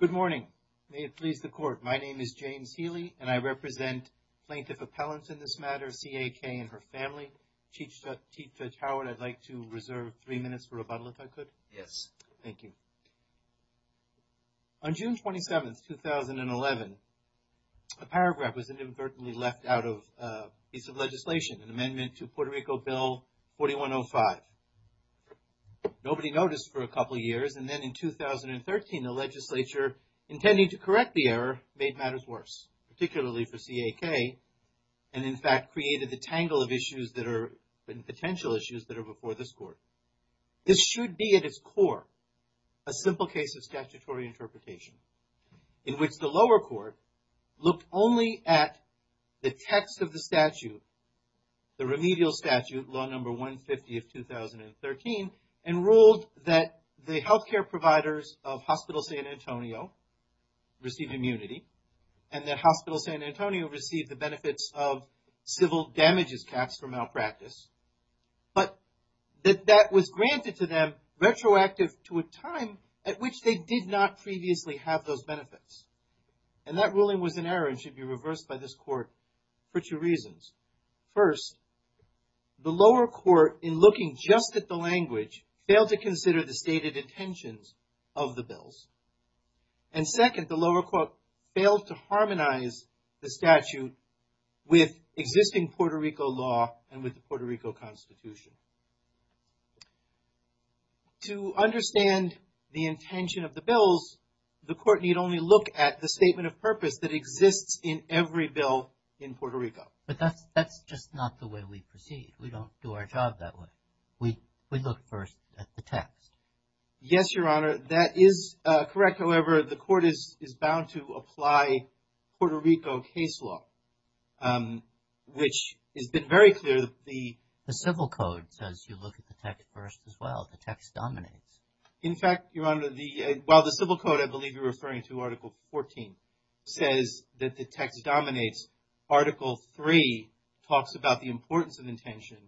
Good morning. May it please the court. My name is James Healy and I represent plaintiff appellants in this matter, C.A.K. and her family. Chief Judge Howard, I'd like to reserve three minutes for rebuttal if I could. Yes. Thank you. On June 27th, 2011, a paragraph was inadvertently left out of a piece of legislation, an amendment to Puerto Rico Bill 4105. Nobody noticed for a couple of years and then in 2013, the legislature, intending to correct the error, made matters worse, particularly for C.A.K. and in fact, created the tangle of issues that are potential issues that are before this court. This should be at its core, a simple case of statutory interpretation in which the lower court looked only at the text of the statute, the remedial statute, law number 150 of 2013, and ruled that the health care providers of Hospital San Antonio received immunity and that Hospital San Antonio received the benefits of civil damages caps for malpractice, but that that was granted to them retroactive to a time at which they did not previously have those benefits. And that ruling was an error and should be reversed by this court for two reasons. First, the lower court in looking just at the language failed to consider the stated intentions of the bills. And second, the lower court failed to harmonize the statute with existing Puerto Rico law and with the Puerto Rico Constitution. To understand the intention of the bills, the court need only look at the statement of purpose that exists in every bill in Puerto Rico. But that's just not the way we proceed. We don't do our job that way. We look first at the text. Yes, Your Honor, that is correct. However, the court is bound to apply Puerto Rico case law, which has been very clear. The civil code says you look at the text first as well. The text dominates. In fact, Your Honor, while the civil code, I believe you're referring to Article 14, says that the text dominates, Article 3 talks about the importance of intention.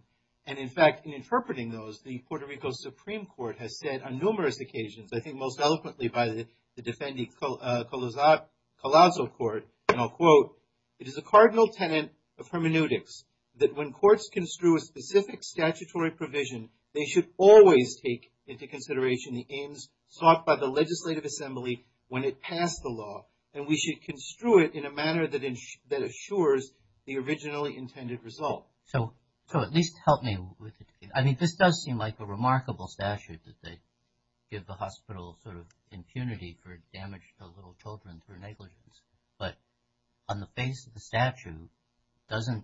And in fact, in interpreting those, the Puerto Rico Supreme Court has said on numerous occasions, I think most eloquently by the defendant Colazo Court, and I'll quote, it is a cardinal tenet of hermeneutics that when courts construe a specific statutory provision, they should always take into consideration the aims sought by the Legislative Assembly when it passed the law. And we should construe it in a manner that assures the originally intended result. So at least help me with it. I mean, this does seem like a remarkable statute that they give the hospital sort of impunity for damage to little children through negligence. But on the face of the statute, it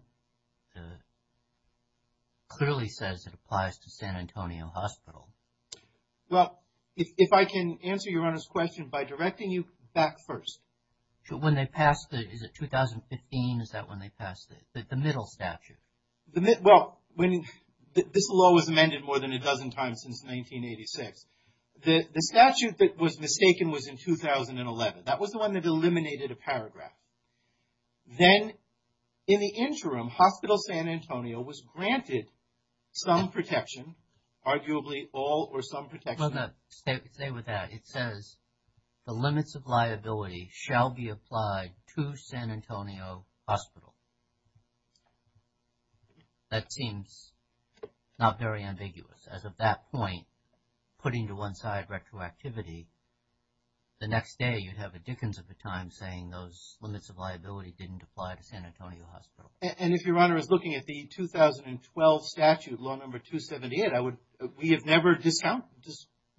clearly says it applies to San Antonio Hospital. Well, if I can answer Your Honor's question by directing you back first. When they passed the, is it 2015, is that when they passed it? The middle statute? Well, this law was amended more than a dozen times since 1986. The statute that was mistaken was in 2011. That was the one that eliminated a paragraph. Then, in the interim, Hospital San Antonio was granted some protection, arguably all or some protection. Well, no, stay with that. It says the limits of liability shall be applied to San Antonio Hospital. That seems not very ambiguous. As of that point, putting to one side retroactivity, the next day you'd have a Dickens of the time saying those limits of liability didn't apply to San Antonio Hospital. And if Your Honor is looking at the 2012 statute, law number 278, we have never discounted,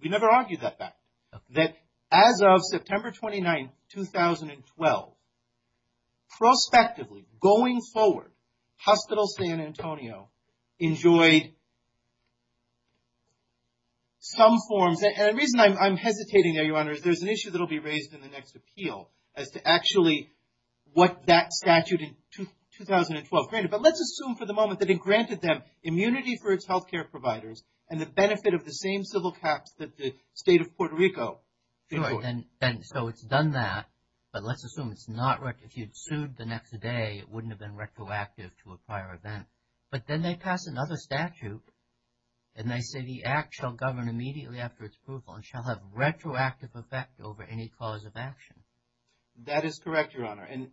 we never argued that back. That as of September 29, 2012, prospectively, going forward, Hospital San Antonio enjoyed some forms, and the reason I'm hesitating there, Your Honor, is there's an issue that will be raised in the next appeal as to actually what that statute in 2012 granted. But let's assume for the moment that it granted them immunity for its health care providers and the benefit of the same civil caps that the state of Puerto Rico. So it's done that, but let's assume it's not retroactive. If you'd sued the next day, it wouldn't have been retroactive to a prior event. But then they pass another statute, and they say the act shall govern immediately after its approval and shall have retroactive effect over any cause of action. That is correct, Your Honor. And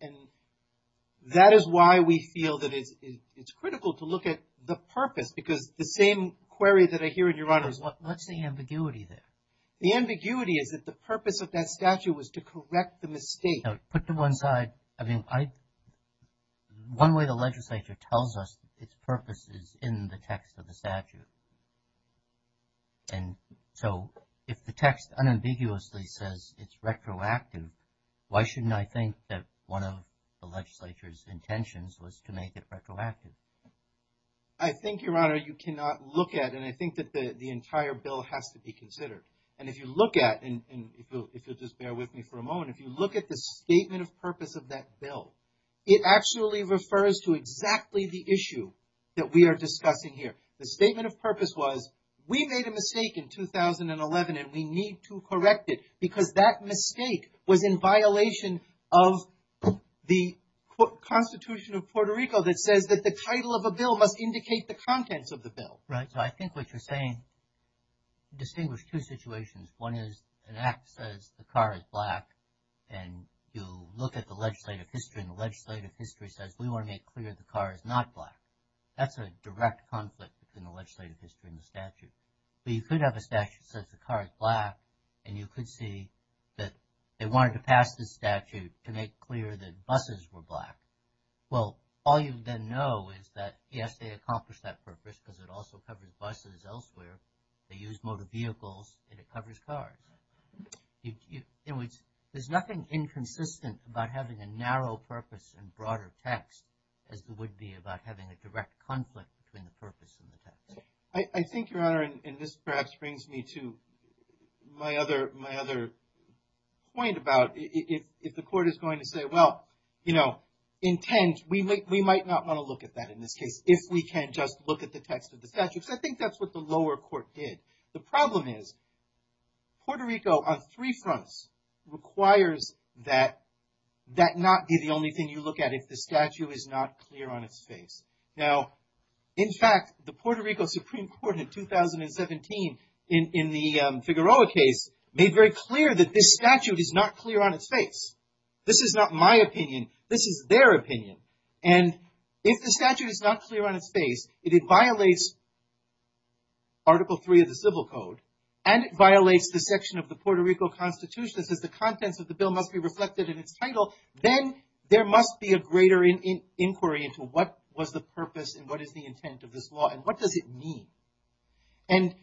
that is why we feel that it's critical to look at the purpose, because the same query that I hear in Your Honor is what's the ambiguity there? The ambiguity is that the purpose of that statute was to correct the mistake. Put to one side, I mean, one way the legislature tells us its purpose is in the text of the statute. And so if the text unambiguously says it's retroactive, why shouldn't I think that one of the legislature's intentions was to make it retroactive? I think, Your Honor, you cannot look at, and I think that the entire bill has to be considered. And if you look at, and if you'll just bear with me for a moment, if you look at the statement of purpose of that bill, it actually refers to exactly the issue that we are discussing here. The statement of purpose was we made a mistake in 2011 and we need to correct it because that mistake was in violation of the Constitution of Puerto Rico that says that the title of a bill must indicate the contents of the bill. Right, so I think what you're saying distinguished two situations. One is an act says the car is black, and you look at the legislative history, and the legislative history says we want to make clear the car is not black. That's a direct conflict in the legislative history and the statute. But you could have a statute that says the car is black, and you could see that they wanted to pass this statute to make clear that buses were black. Well, all you then know is that, yes, they accomplished that purpose because it also covers buses elsewhere. They used motor vehicles, and it covers cars. In which there's nothing inconsistent about having a narrow purpose and broader text as it would be about having a direct conflict between the purpose and the text. I think, Your Honor, and this perhaps brings me to my other point about if the court is going to say, well, you know, intent, we might not want to look at that in this case if we can just look at the text of the statute. Because I think that's what the lower court did. The problem is Puerto Rico on three fronts requires that that not be the only thing you look at if the statute is not clear on its face. Now, in fact, the Puerto Rico Supreme Court in 2017 in the Figueroa case made very clear that this statute is not clear on its face. This is not my opinion. This is their opinion. And if the statute is not clear on its face, it violates Article III of the Civil Code, and it violates the section of the Puerto Rico Constitution that says the contents of the bill must be reflected in its title, then there must be a greater inquiry into what was the purpose and what is the intent of this law and what does it mean. And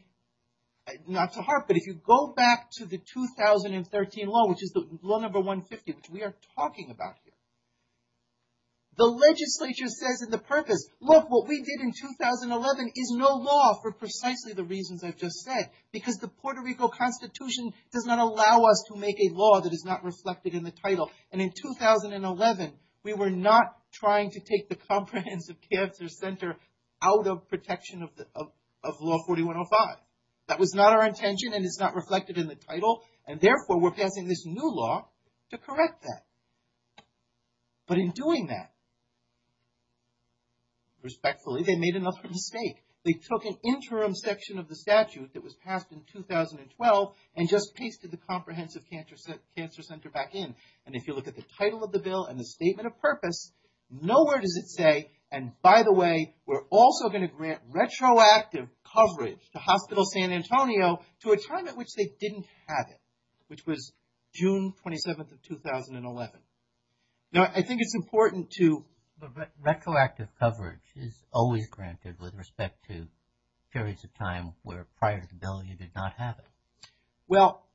not to harp, but if you go back to the 2013 law, which is the law number 150, which we are talking about here, the legislature says in the purpose, look, what we did in 2011 is no law for precisely the reasons I've just said. Because the Puerto Rico Constitution does not allow us to make a law that is not reflected in the title. And in 2011, we were not trying to take the Comprehensive Cancer Center out of protection of Law 4105. That was not our intention, and it's not reflected in the title, and therefore we're passing this new law to correct that. But in doing that, respectfully, they made another mistake. They took an interim section of the statute that was passed in 2012 and just pasted the Comprehensive Cancer Center back in. And if you look at the title of the bill and the statement of purpose, nowhere does it say, and by the way, we're also going to grant retroactive coverage to Hospital San Antonio to a time at which they didn't have it, which was June 27th of 2011. Now, I think it's important to... But retroactive coverage is always granted with respect to periods of time where prior to the bill you did not have it. Well,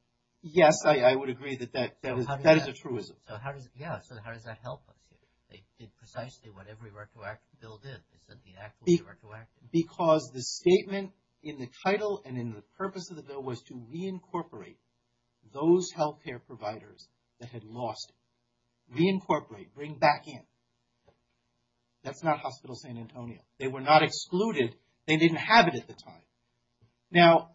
yes, I would agree that that is a truism. So how does that help us? They did precisely what every retroactive bill did. They said the act was retroactive. Because the statement in the title and in the purpose of the bill was to reincorporate those health care providers that had lost it. Reincorporate, bring back in. That's not Hospital San Antonio. They were not excluded. They didn't have it at the time. Now,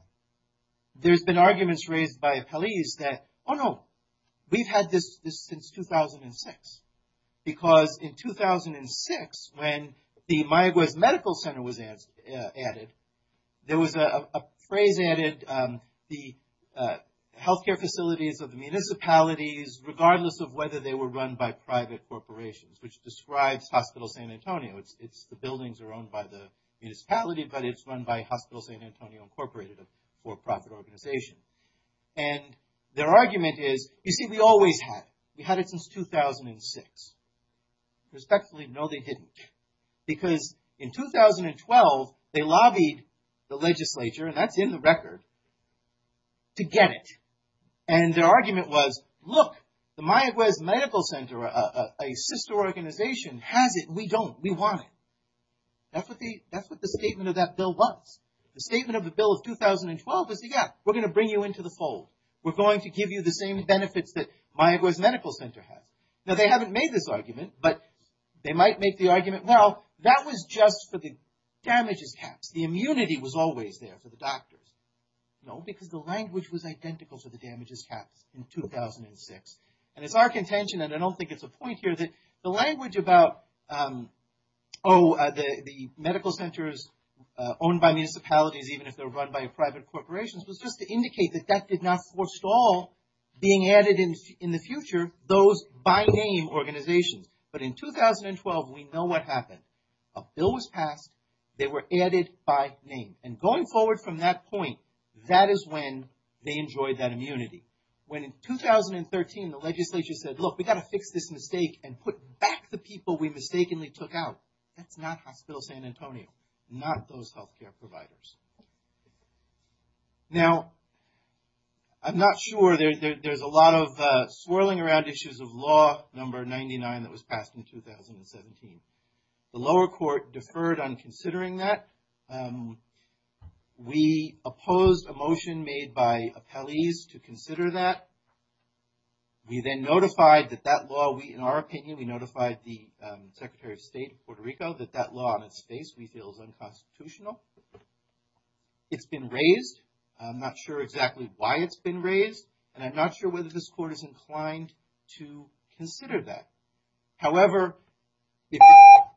there's been arguments raised by police that, oh no, we've had this since 2006. Because in 2006, when the Mayaguez Medical Center was added, there was a phrase added, the health care facilities of the municipalities, regardless of whether they were run by private corporations, which describes Hospital San Antonio. The buildings are owned by the municipality, but it's run by Hospital San Antonio Incorporated, a for-profit organization. And their argument is, you see, we always had it. We had it since 2006. Respectfully, no, they didn't. Because in 2012, they lobbied the legislature, and that's in the record, to get it. And their argument was, look, the Mayaguez Medical Center, a sister organization, has it. We don't. We want it. That's what the statement of that bill was. The statement of the bill of 2012 was, yeah, we're going to bring you into the fold. We're going to give you the same benefits that Mayaguez Medical Center had. Now, they haven't made this argument, but they might make the argument, well, that was just for the damages caps. The immunity was always there for the doctors. No, because the language was identical to the damages caps in 2006. And it's our contention, and I don't think it's a point here, that the language about, oh, the medical centers owned by municipalities, even if they're run by private corporations, was just to indicate that that did not forestall being added in the future, those by-name organizations. But in 2012, we know what happened. A bill was passed. They were added by name. And going forward from that point, that is when they enjoyed that immunity. When in 2013, the legislature said, look, we've got to fix this mistake and put back the people we mistakenly took out. That's not Hospital San Antonio, not those health care providers. Now, I'm not sure. There's a lot of swirling around issues of law number 99 that was passed in 2017. The lower court deferred on considering that. We opposed a motion made by appellees to consider that. We then notified that that law, in our opinion, we notified the Secretary of State of Puerto Rico that that law, on its face, we feel is unconstitutional. It's been raised. I'm not sure exactly why it's been raised. And I'm not sure whether this court is inclined to consider that. However,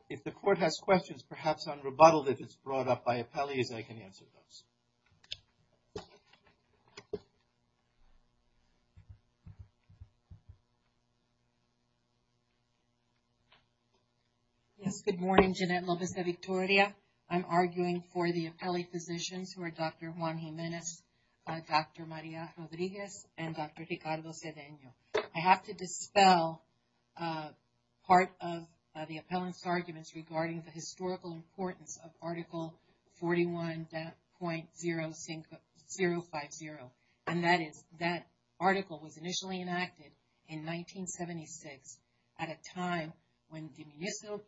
if the court has questions, perhaps unrebuttaled, if it's brought up by appellees, I can answer those. Yes, good morning. Jeanette Lopez de Victoria. I'm arguing for the appellee physicians who are Dr. Juan Jimenez, Dr. Maria Rodriguez, and Dr. Ricardo Sedeño. I have to dispel part of the appellant's arguments regarding the historical importance of Article 41.050. And that is that article was initially enacted in 1976 at a time when the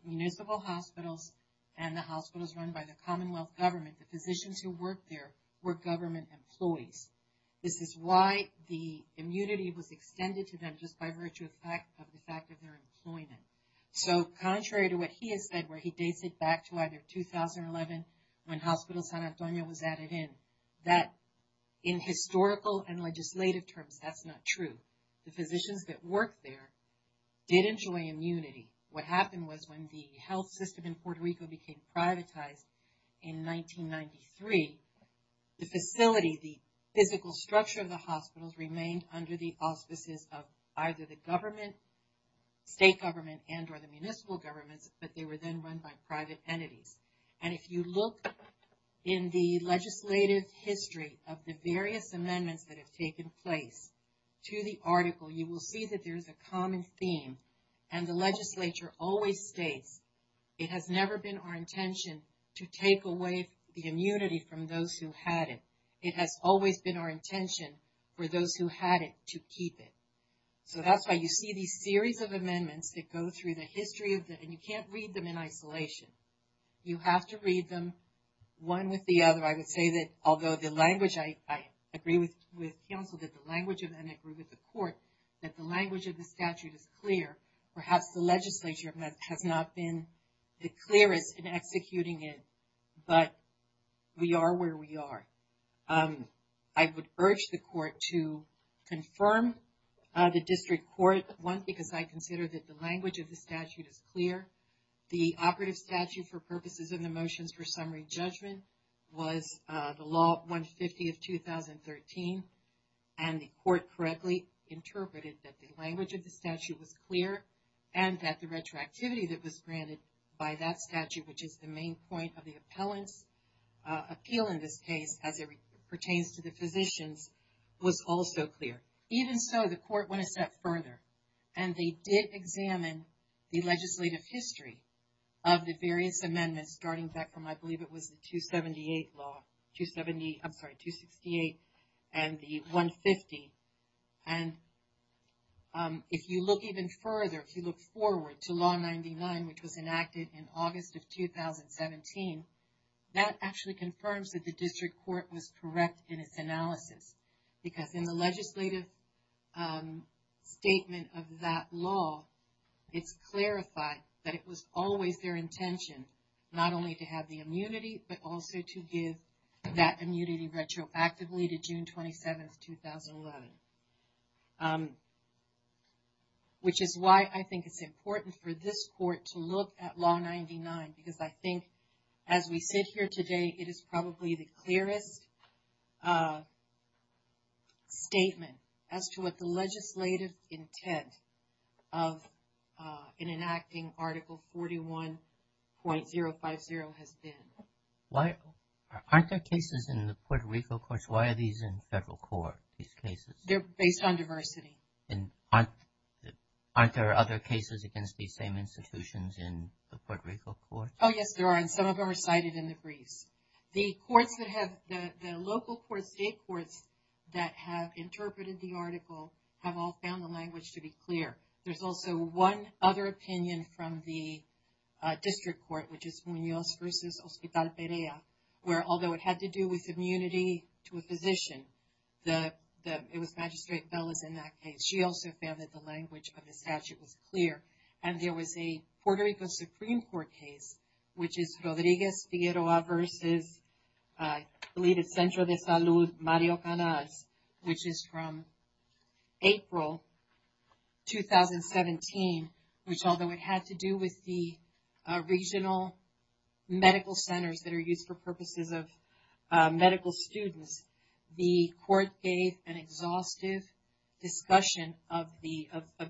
municipal hospitals and the hospitals run by the Commonwealth government, the physicians who worked there, were government employees. This is why the immunity was extended to them, just by virtue of the fact of their employment. So contrary to what he has said, where he dates it back to either 2011, when Hospital San Antonio was added in, that in historical and legislative terms, that's not true. The physicians that worked there did enjoy immunity. What happened was when the health system in Puerto Rico became privatized in 1993, the facility, the physical structure of the hospitals, remained under the auspices of either the government, state government, and or the municipal governments, but they were then run by private entities. And if you look in the legislative history of the various amendments that have taken place to the article, you will see that there is a common theme. And the legislature always states, it has never been our intention to take away the immunity from those who had it. It has always been our intention for those who had it to keep it. So that's why you see these series of amendments that go through the history of the, and you can't read them in isolation. You have to read them one with the other. I would say that although the language, I agree with counsel that the language of them, perhaps the legislature has not been the clearest in executing it, but we are where we are. I would urge the court to confirm the district court one, because I consider that the language of the statute is clear. The operative statute for purposes of the motions for summary judgment was the law 150 of 2013. And the court correctly interpreted that the language of the statute was clear and that the retroactivity that was granted by that statute, which is the main point of the appellant's appeal in this case, as it pertains to the physicians was also clear. Even so the court went a step further and they did examine the legislative history of the various amendments starting back from, I believe it was the 278 law, I'm sorry, 268 and the 150. And if you look even further, if you look forward to law 99, which was enacted in August of 2017, that actually confirms that the district court was correct in its analysis. Because in the legislative statement of that law, it's clarified that it was always their intention, not only to have the immunity, but also to give that immunity retroactively to June 27th, 2011. Which is why I think it's important for this court to look at law 99, because I think as we sit here today, it is probably the clearest statement as to what the legislative intent of an enacting article 41.050 has been. Aren't there cases in the Puerto Rico courts? Why are these in federal court, these cases? They're based on diversity. And aren't there other cases against these same institutions in the Puerto Rico courts? Oh, yes, there are. And some of them are cited in the briefs. The courts that have, the local courts, state courts that have interpreted the article have all found the language to be clear. There's also one other opinion from the district court, which is Munoz versus Hospital Perea, where although it had to do with immunity to a physician, it was Magistrate Bell that was in that case. She also found that the language of the statute was clear. And there was a Puerto Rico Supreme Court case, which is Rodriguez-Figueroa versus, I believe it's Centro de Salud Mario Canaz, which is from April 2017, which although it had to do with the regional medical centers that are used for purposes of medical students, the court gave an exhaustive discussion of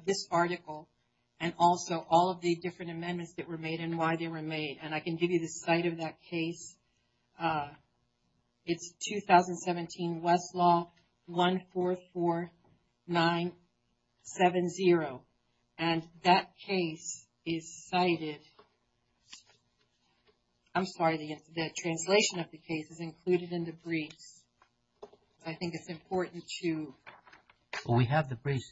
this article, and also all of the different amendments that were made and why they were made. And I can give you the site of that case. It's 2017 Westlaw 144970. And that case is cited. I'm sorry, the translation of the case is included in the briefs. I think it's important to. We have the briefs.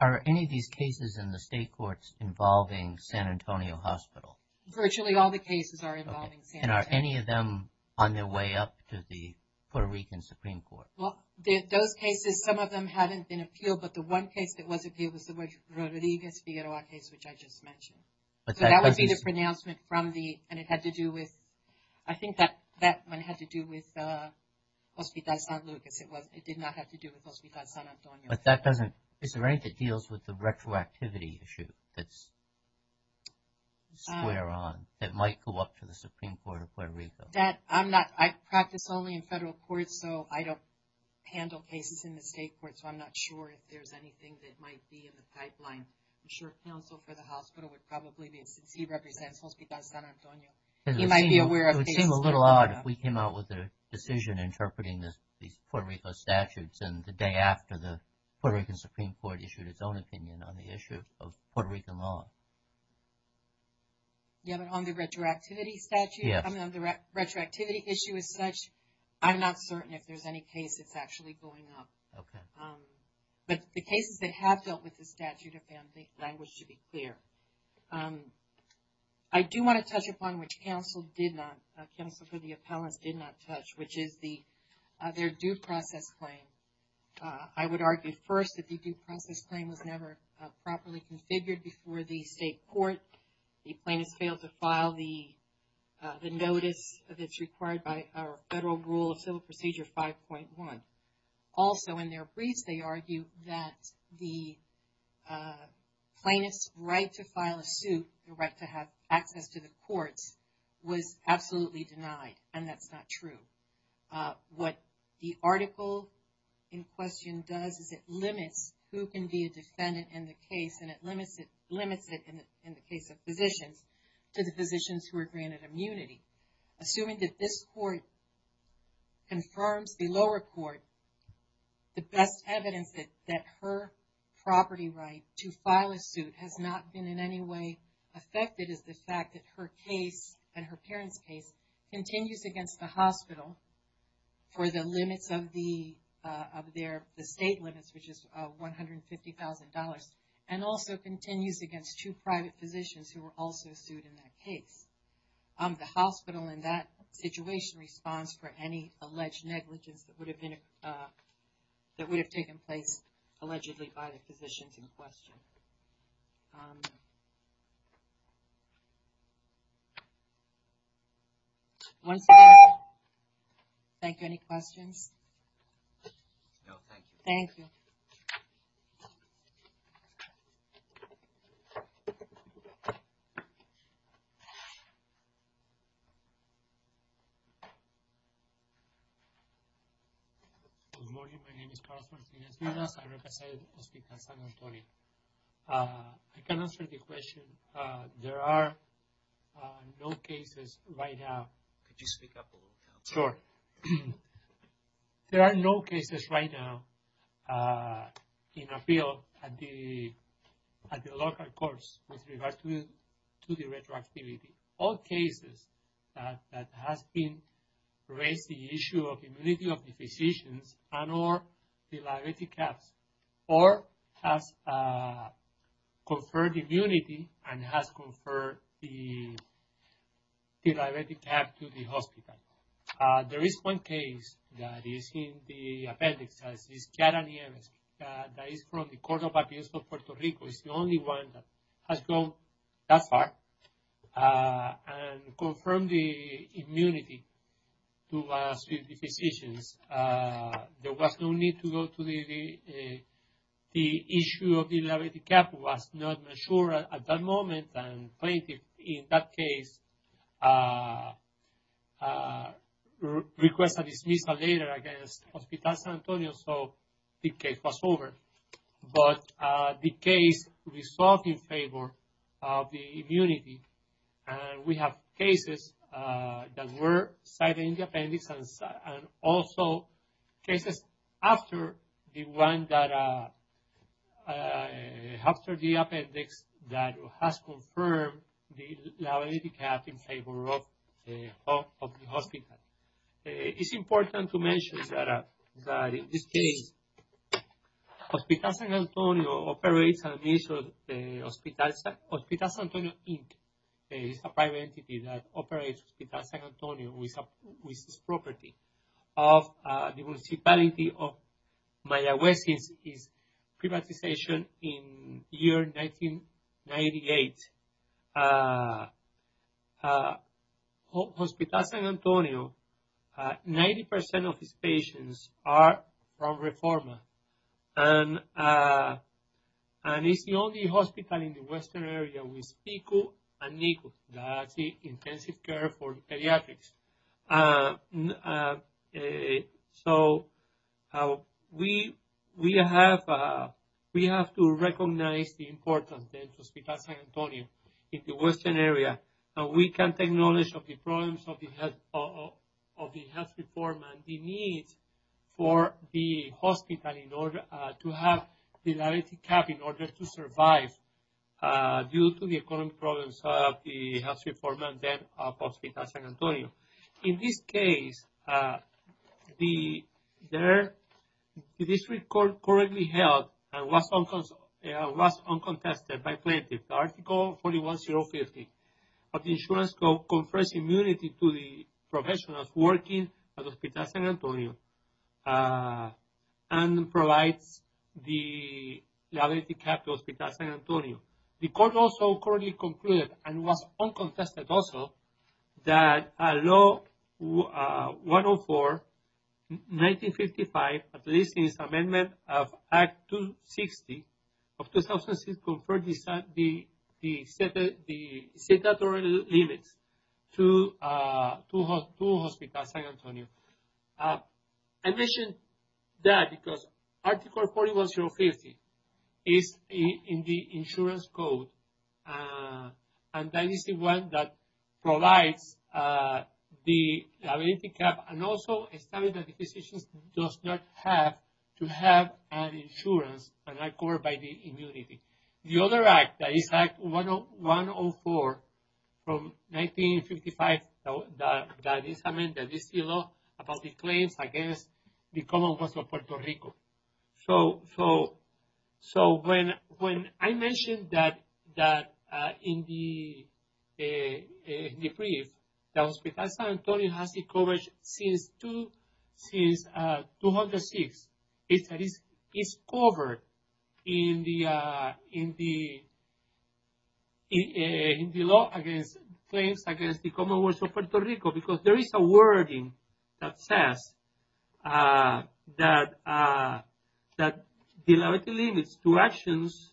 Are any of these cases in the state courts involving San Antonio Hospital? Virtually all the cases are involving San Antonio. And are any of them on their way up to the Puerto Rican Supreme Court? Well, those cases, some of them haven't been appealed, but the one case that was appealed was the Rodriguez-Figueroa case, which I just mentioned. So that would be the pronouncement from the, and it had to do with, I think that one had to do with Hospital San Lucas. It did not have to do with Hospital San Antonio. But that doesn't, is there anything that deals with the retroactivity issue that's square on, that might go up to the Supreme Court of Puerto Rico? That, I'm not, I practice only in federal courts, so I don't handle cases in the state courts, so I'm not sure if there's anything that might be in the pipeline. I'm sure counsel for the hospital would probably be, since he represents Hospital San Antonio. He might be aware of cases in Puerto Rico. It would be odd if we came out with a decision interpreting these Puerto Rico statutes and the day after the Puerto Rican Supreme Court issued its own opinion on the issue of Puerto Rican law. Yeah, but on the retroactivity statute, I mean on the retroactivity issue as such, I'm not certain if there's any case that's actually going up. Okay. But the cases that have dealt with the statute of family language should be clear. I do want to touch upon what counsel did not, counsel for the appellants did not touch, which is their due process claim. I would argue first that the due process claim was never properly configured before the state court. The plaintiffs failed to file the notice that's required by our federal rule of civil procedure 5.1. Also in their briefs, they argue that the plaintiff's right to file a suit, the right to have access to the courts, was absolutely denied. And that's not true. What the article in question does is it limits who can be a defendant in the case, and it limits it in the case of physicians to the physicians who are granted immunity. Assuming that this court confirms the lower court, the best evidence that her property right to file a suit has not been in any way affected is the fact that her case and her parents' case continues against the hospital for the limits of the state limits, which is $150,000, and also continues against two private physicians who were also sued in that case. The hospital in that situation responds for any alleged negligence that would have been, that would have taken place allegedly by the physicians in question. Once again, thank you. Any questions? Thank you. Good morning. My name is Carlos Martinez-Vilas. I represent Hospital San Antonio. I can answer the question. There are no cases right now. Could you speak up a little bit? Sure. There are no cases right now in a field at the local courts with regards to the retroactivity. All cases that has been raised the issue of immunity of the physicians and or the liability caps, or has conferred immunity and has conferred the liability cap to the hospital. There is one case that is in the appendix, as is Chiara Nieves, that is from the Court of Appeals of Puerto Rico. It's the only one that has gone that far and confirmed the immunity to the physicians. There was no need to go to the issue of the liability cap was not mature at that moment and plaintiff in that case requested a dismissal later against Hospital San Antonio, so the case was over. But the case resolved in favor of the immunity. And we have cases that were cited in the appendix and also cases after the appendix that has confirmed the liability cap in favor of the hospital. It's important to mention that in this case, Hospital San Antonio operates an initial, Hospital San Antonio Inc. is a private entity that operates Hospital San Antonio with this property. The municipality of Mayaguez is privatization in year 1998. Hospital San Antonio, 90% of its patients are from REFORMA. And it's the only hospital in the western area with PICO and NICU, that's the intensive care for pediatrics. So, we have to recognize the importance of Hospital San Antonio in the western area. And we can't acknowledge the problems of the health reform and the needs for the hospital in order to have the liability cap in order to survive due to the economic problems of the health reform and debt of Hospital San Antonio. In this case, the district court correctly held and was uncontested by plaintiffs. Article 41050 of the insurance code confers immunity to the professionals working at Hospital San Antonio and provides the liability cap to Hospital San Antonio. The court also correctly concluded and was uncontested also that Law 104-1955, at least in its amendment of Act 260 of 2006, conferred the statutory limits to Hospital San Antonio. I mention that because Article 41050 is in the insurance code. And that is the one that provides the liability cap and also established that the physician does not have to have an insurance and are covered by the immunity. The other Act, that is Act 104-1955, that is amended, is still about the claims against the Commonwealth of Puerto Rico. So, when I mentioned that in the brief that Hospital San Antonio has the coverage since 2006, it is covered in the law against claims against the Commonwealth of Puerto Rico because there is a wording that says that the liability limits to actions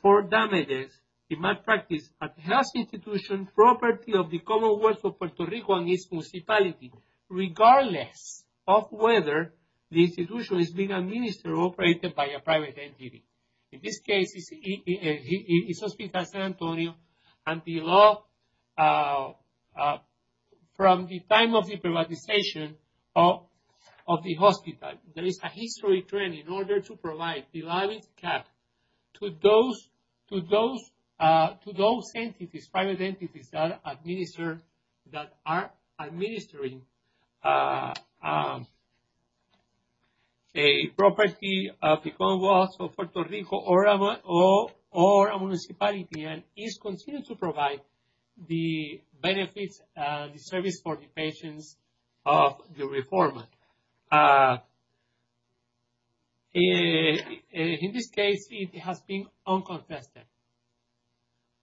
for damages in malpractice at the health institution, property of the Commonwealth of Puerto Rico, and its municipality, regardless of whether the institution is being administered or operated by a private entity. In this case, it's Hospital San Antonio and the law from the time of the privatization of the hospital. There is a history trend in order to provide the liability cap to those entities, private entities that are administering a property of the Commonwealth of Puerto Rico or a municipality and is considered to provide the benefits, the service for the patients of the reformer. In this case, it has been uncontested.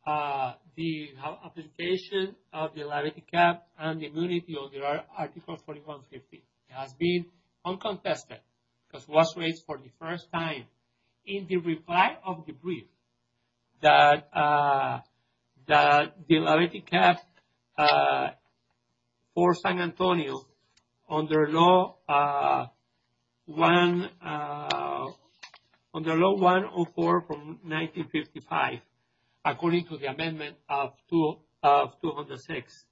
The application of the liability cap and immunity under Article 4150 has been uncontested because it was raised for the first time in the reply of the brief that the liability cap for San Antonio under Law 104 from 1955, according to the Amendment of 206.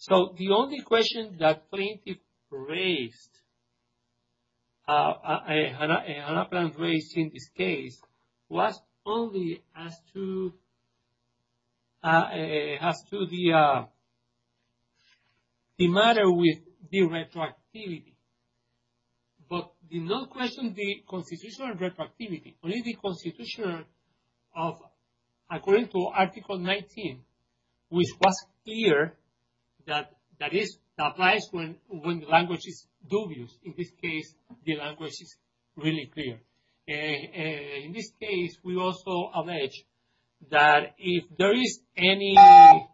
So the only question that Plaintiff raised in this case was only as to the matter with the retroactivity. But did not question the constitutional retroactivity, only the constitution of according to Article 19, which was clear that that is applies when the language is dubious. In this case, the language is really clear. In this case, we also allege that if there is any, hold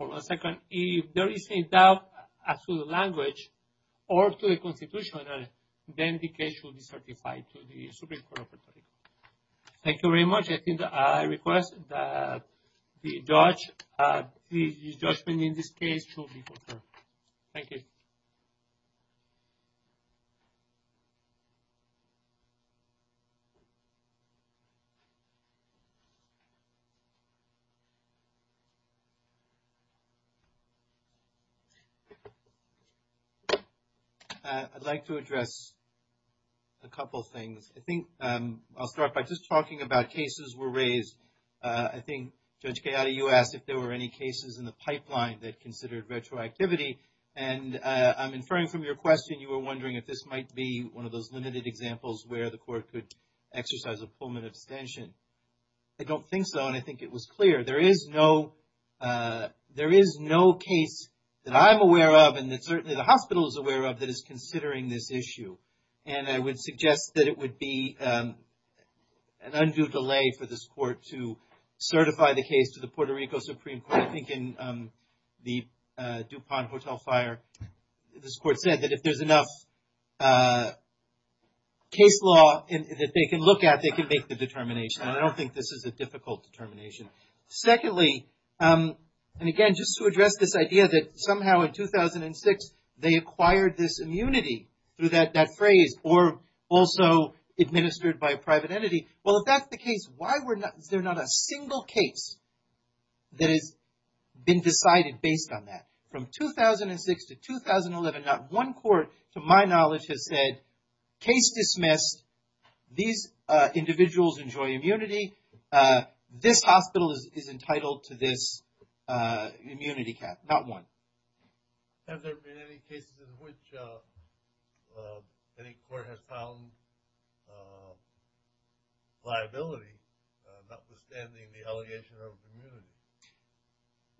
on a second, if there is a doubt as to the language or to the constitution, then the case will be certified to the Supreme Court of Puerto Rico. Thank you very much. I think I request that the judgment in this case should be confirmed. Thank you. I'd like to address a couple of things. I think I'll start by just talking about cases were raised. I think Judge Gayati, you asked if there were any cases in the pipeline that considered retroactivity. And I'm inferring from your question, you were wondering if this might be one of those limited examples where the court could exercise a Pullman abstention. I don't think so. And I think it was clear. There is no case that I'm aware of and that certainly the hospital is aware of that is considering this issue. And I would suggest that it would be an undue delay for this court to certify the case to the Puerto Rico Supreme Court. I think in the Dupont Hotel fire, this court said that if there's enough case law that they can look at, they can make the determination. I don't think this is a difficult determination. Secondly, and again, just to address this idea that somehow in 2006, they acquired this immunity through that phrase or also administered by a private entity. Well, if that's the case, why is there not a single case that has been decided based on that? From 2006 to 2011, not one court to my knowledge has said case dismissed. These individuals enjoy immunity. This hospital is entitled to this immunity cap. Not one. Have there been any cases in which any court has found liability notwithstanding the allegation of immunity?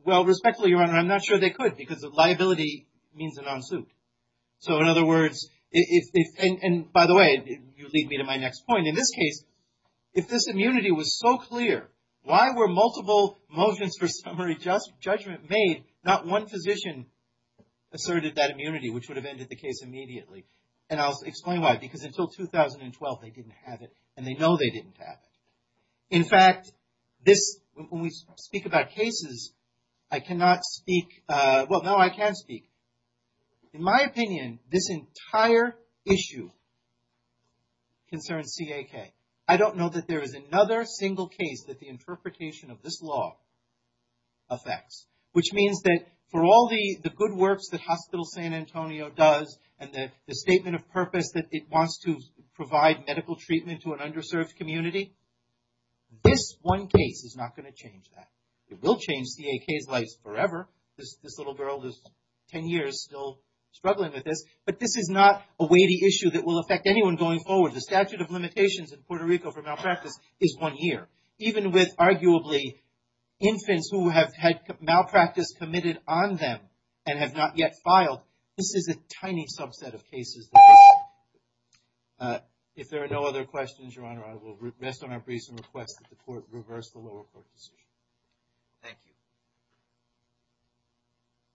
Well, respectfully, Your Honor, I'm not sure they could because liability means a non-suit. So, in other words, and by the way, you lead me to my next point. In this case, if this immunity was so clear, why were multiple motions for summary judgment made? Not one physician asserted that immunity, which would have ended the case immediately. And I'll explain why. Because until 2012, they didn't have it and they know they didn't have it. In fact, when we speak about cases, I cannot speak, well, no, I can speak. In my opinion, this entire issue concerns CAK. I don't know that there is another single case that the interpretation of this law affects. Which means that for all the good works that Hospital San Antonio does and the statement of purpose that it wants to provide medical treatment to an underserved community, this one case is not going to change that. It will change CAK's lives forever. This little girl is 10 years still struggling with this. But this is not a weighty issue that will affect anyone going forward. The statute of limitations in Puerto Rico for malpractice is one year. Even with arguably infants who have had malpractice committed on them and have not yet filed, this is a tiny subset of cases. If there are no other questions, Your Honor, I will rest on our recent request that the court reverse the lower court decision. Thank you.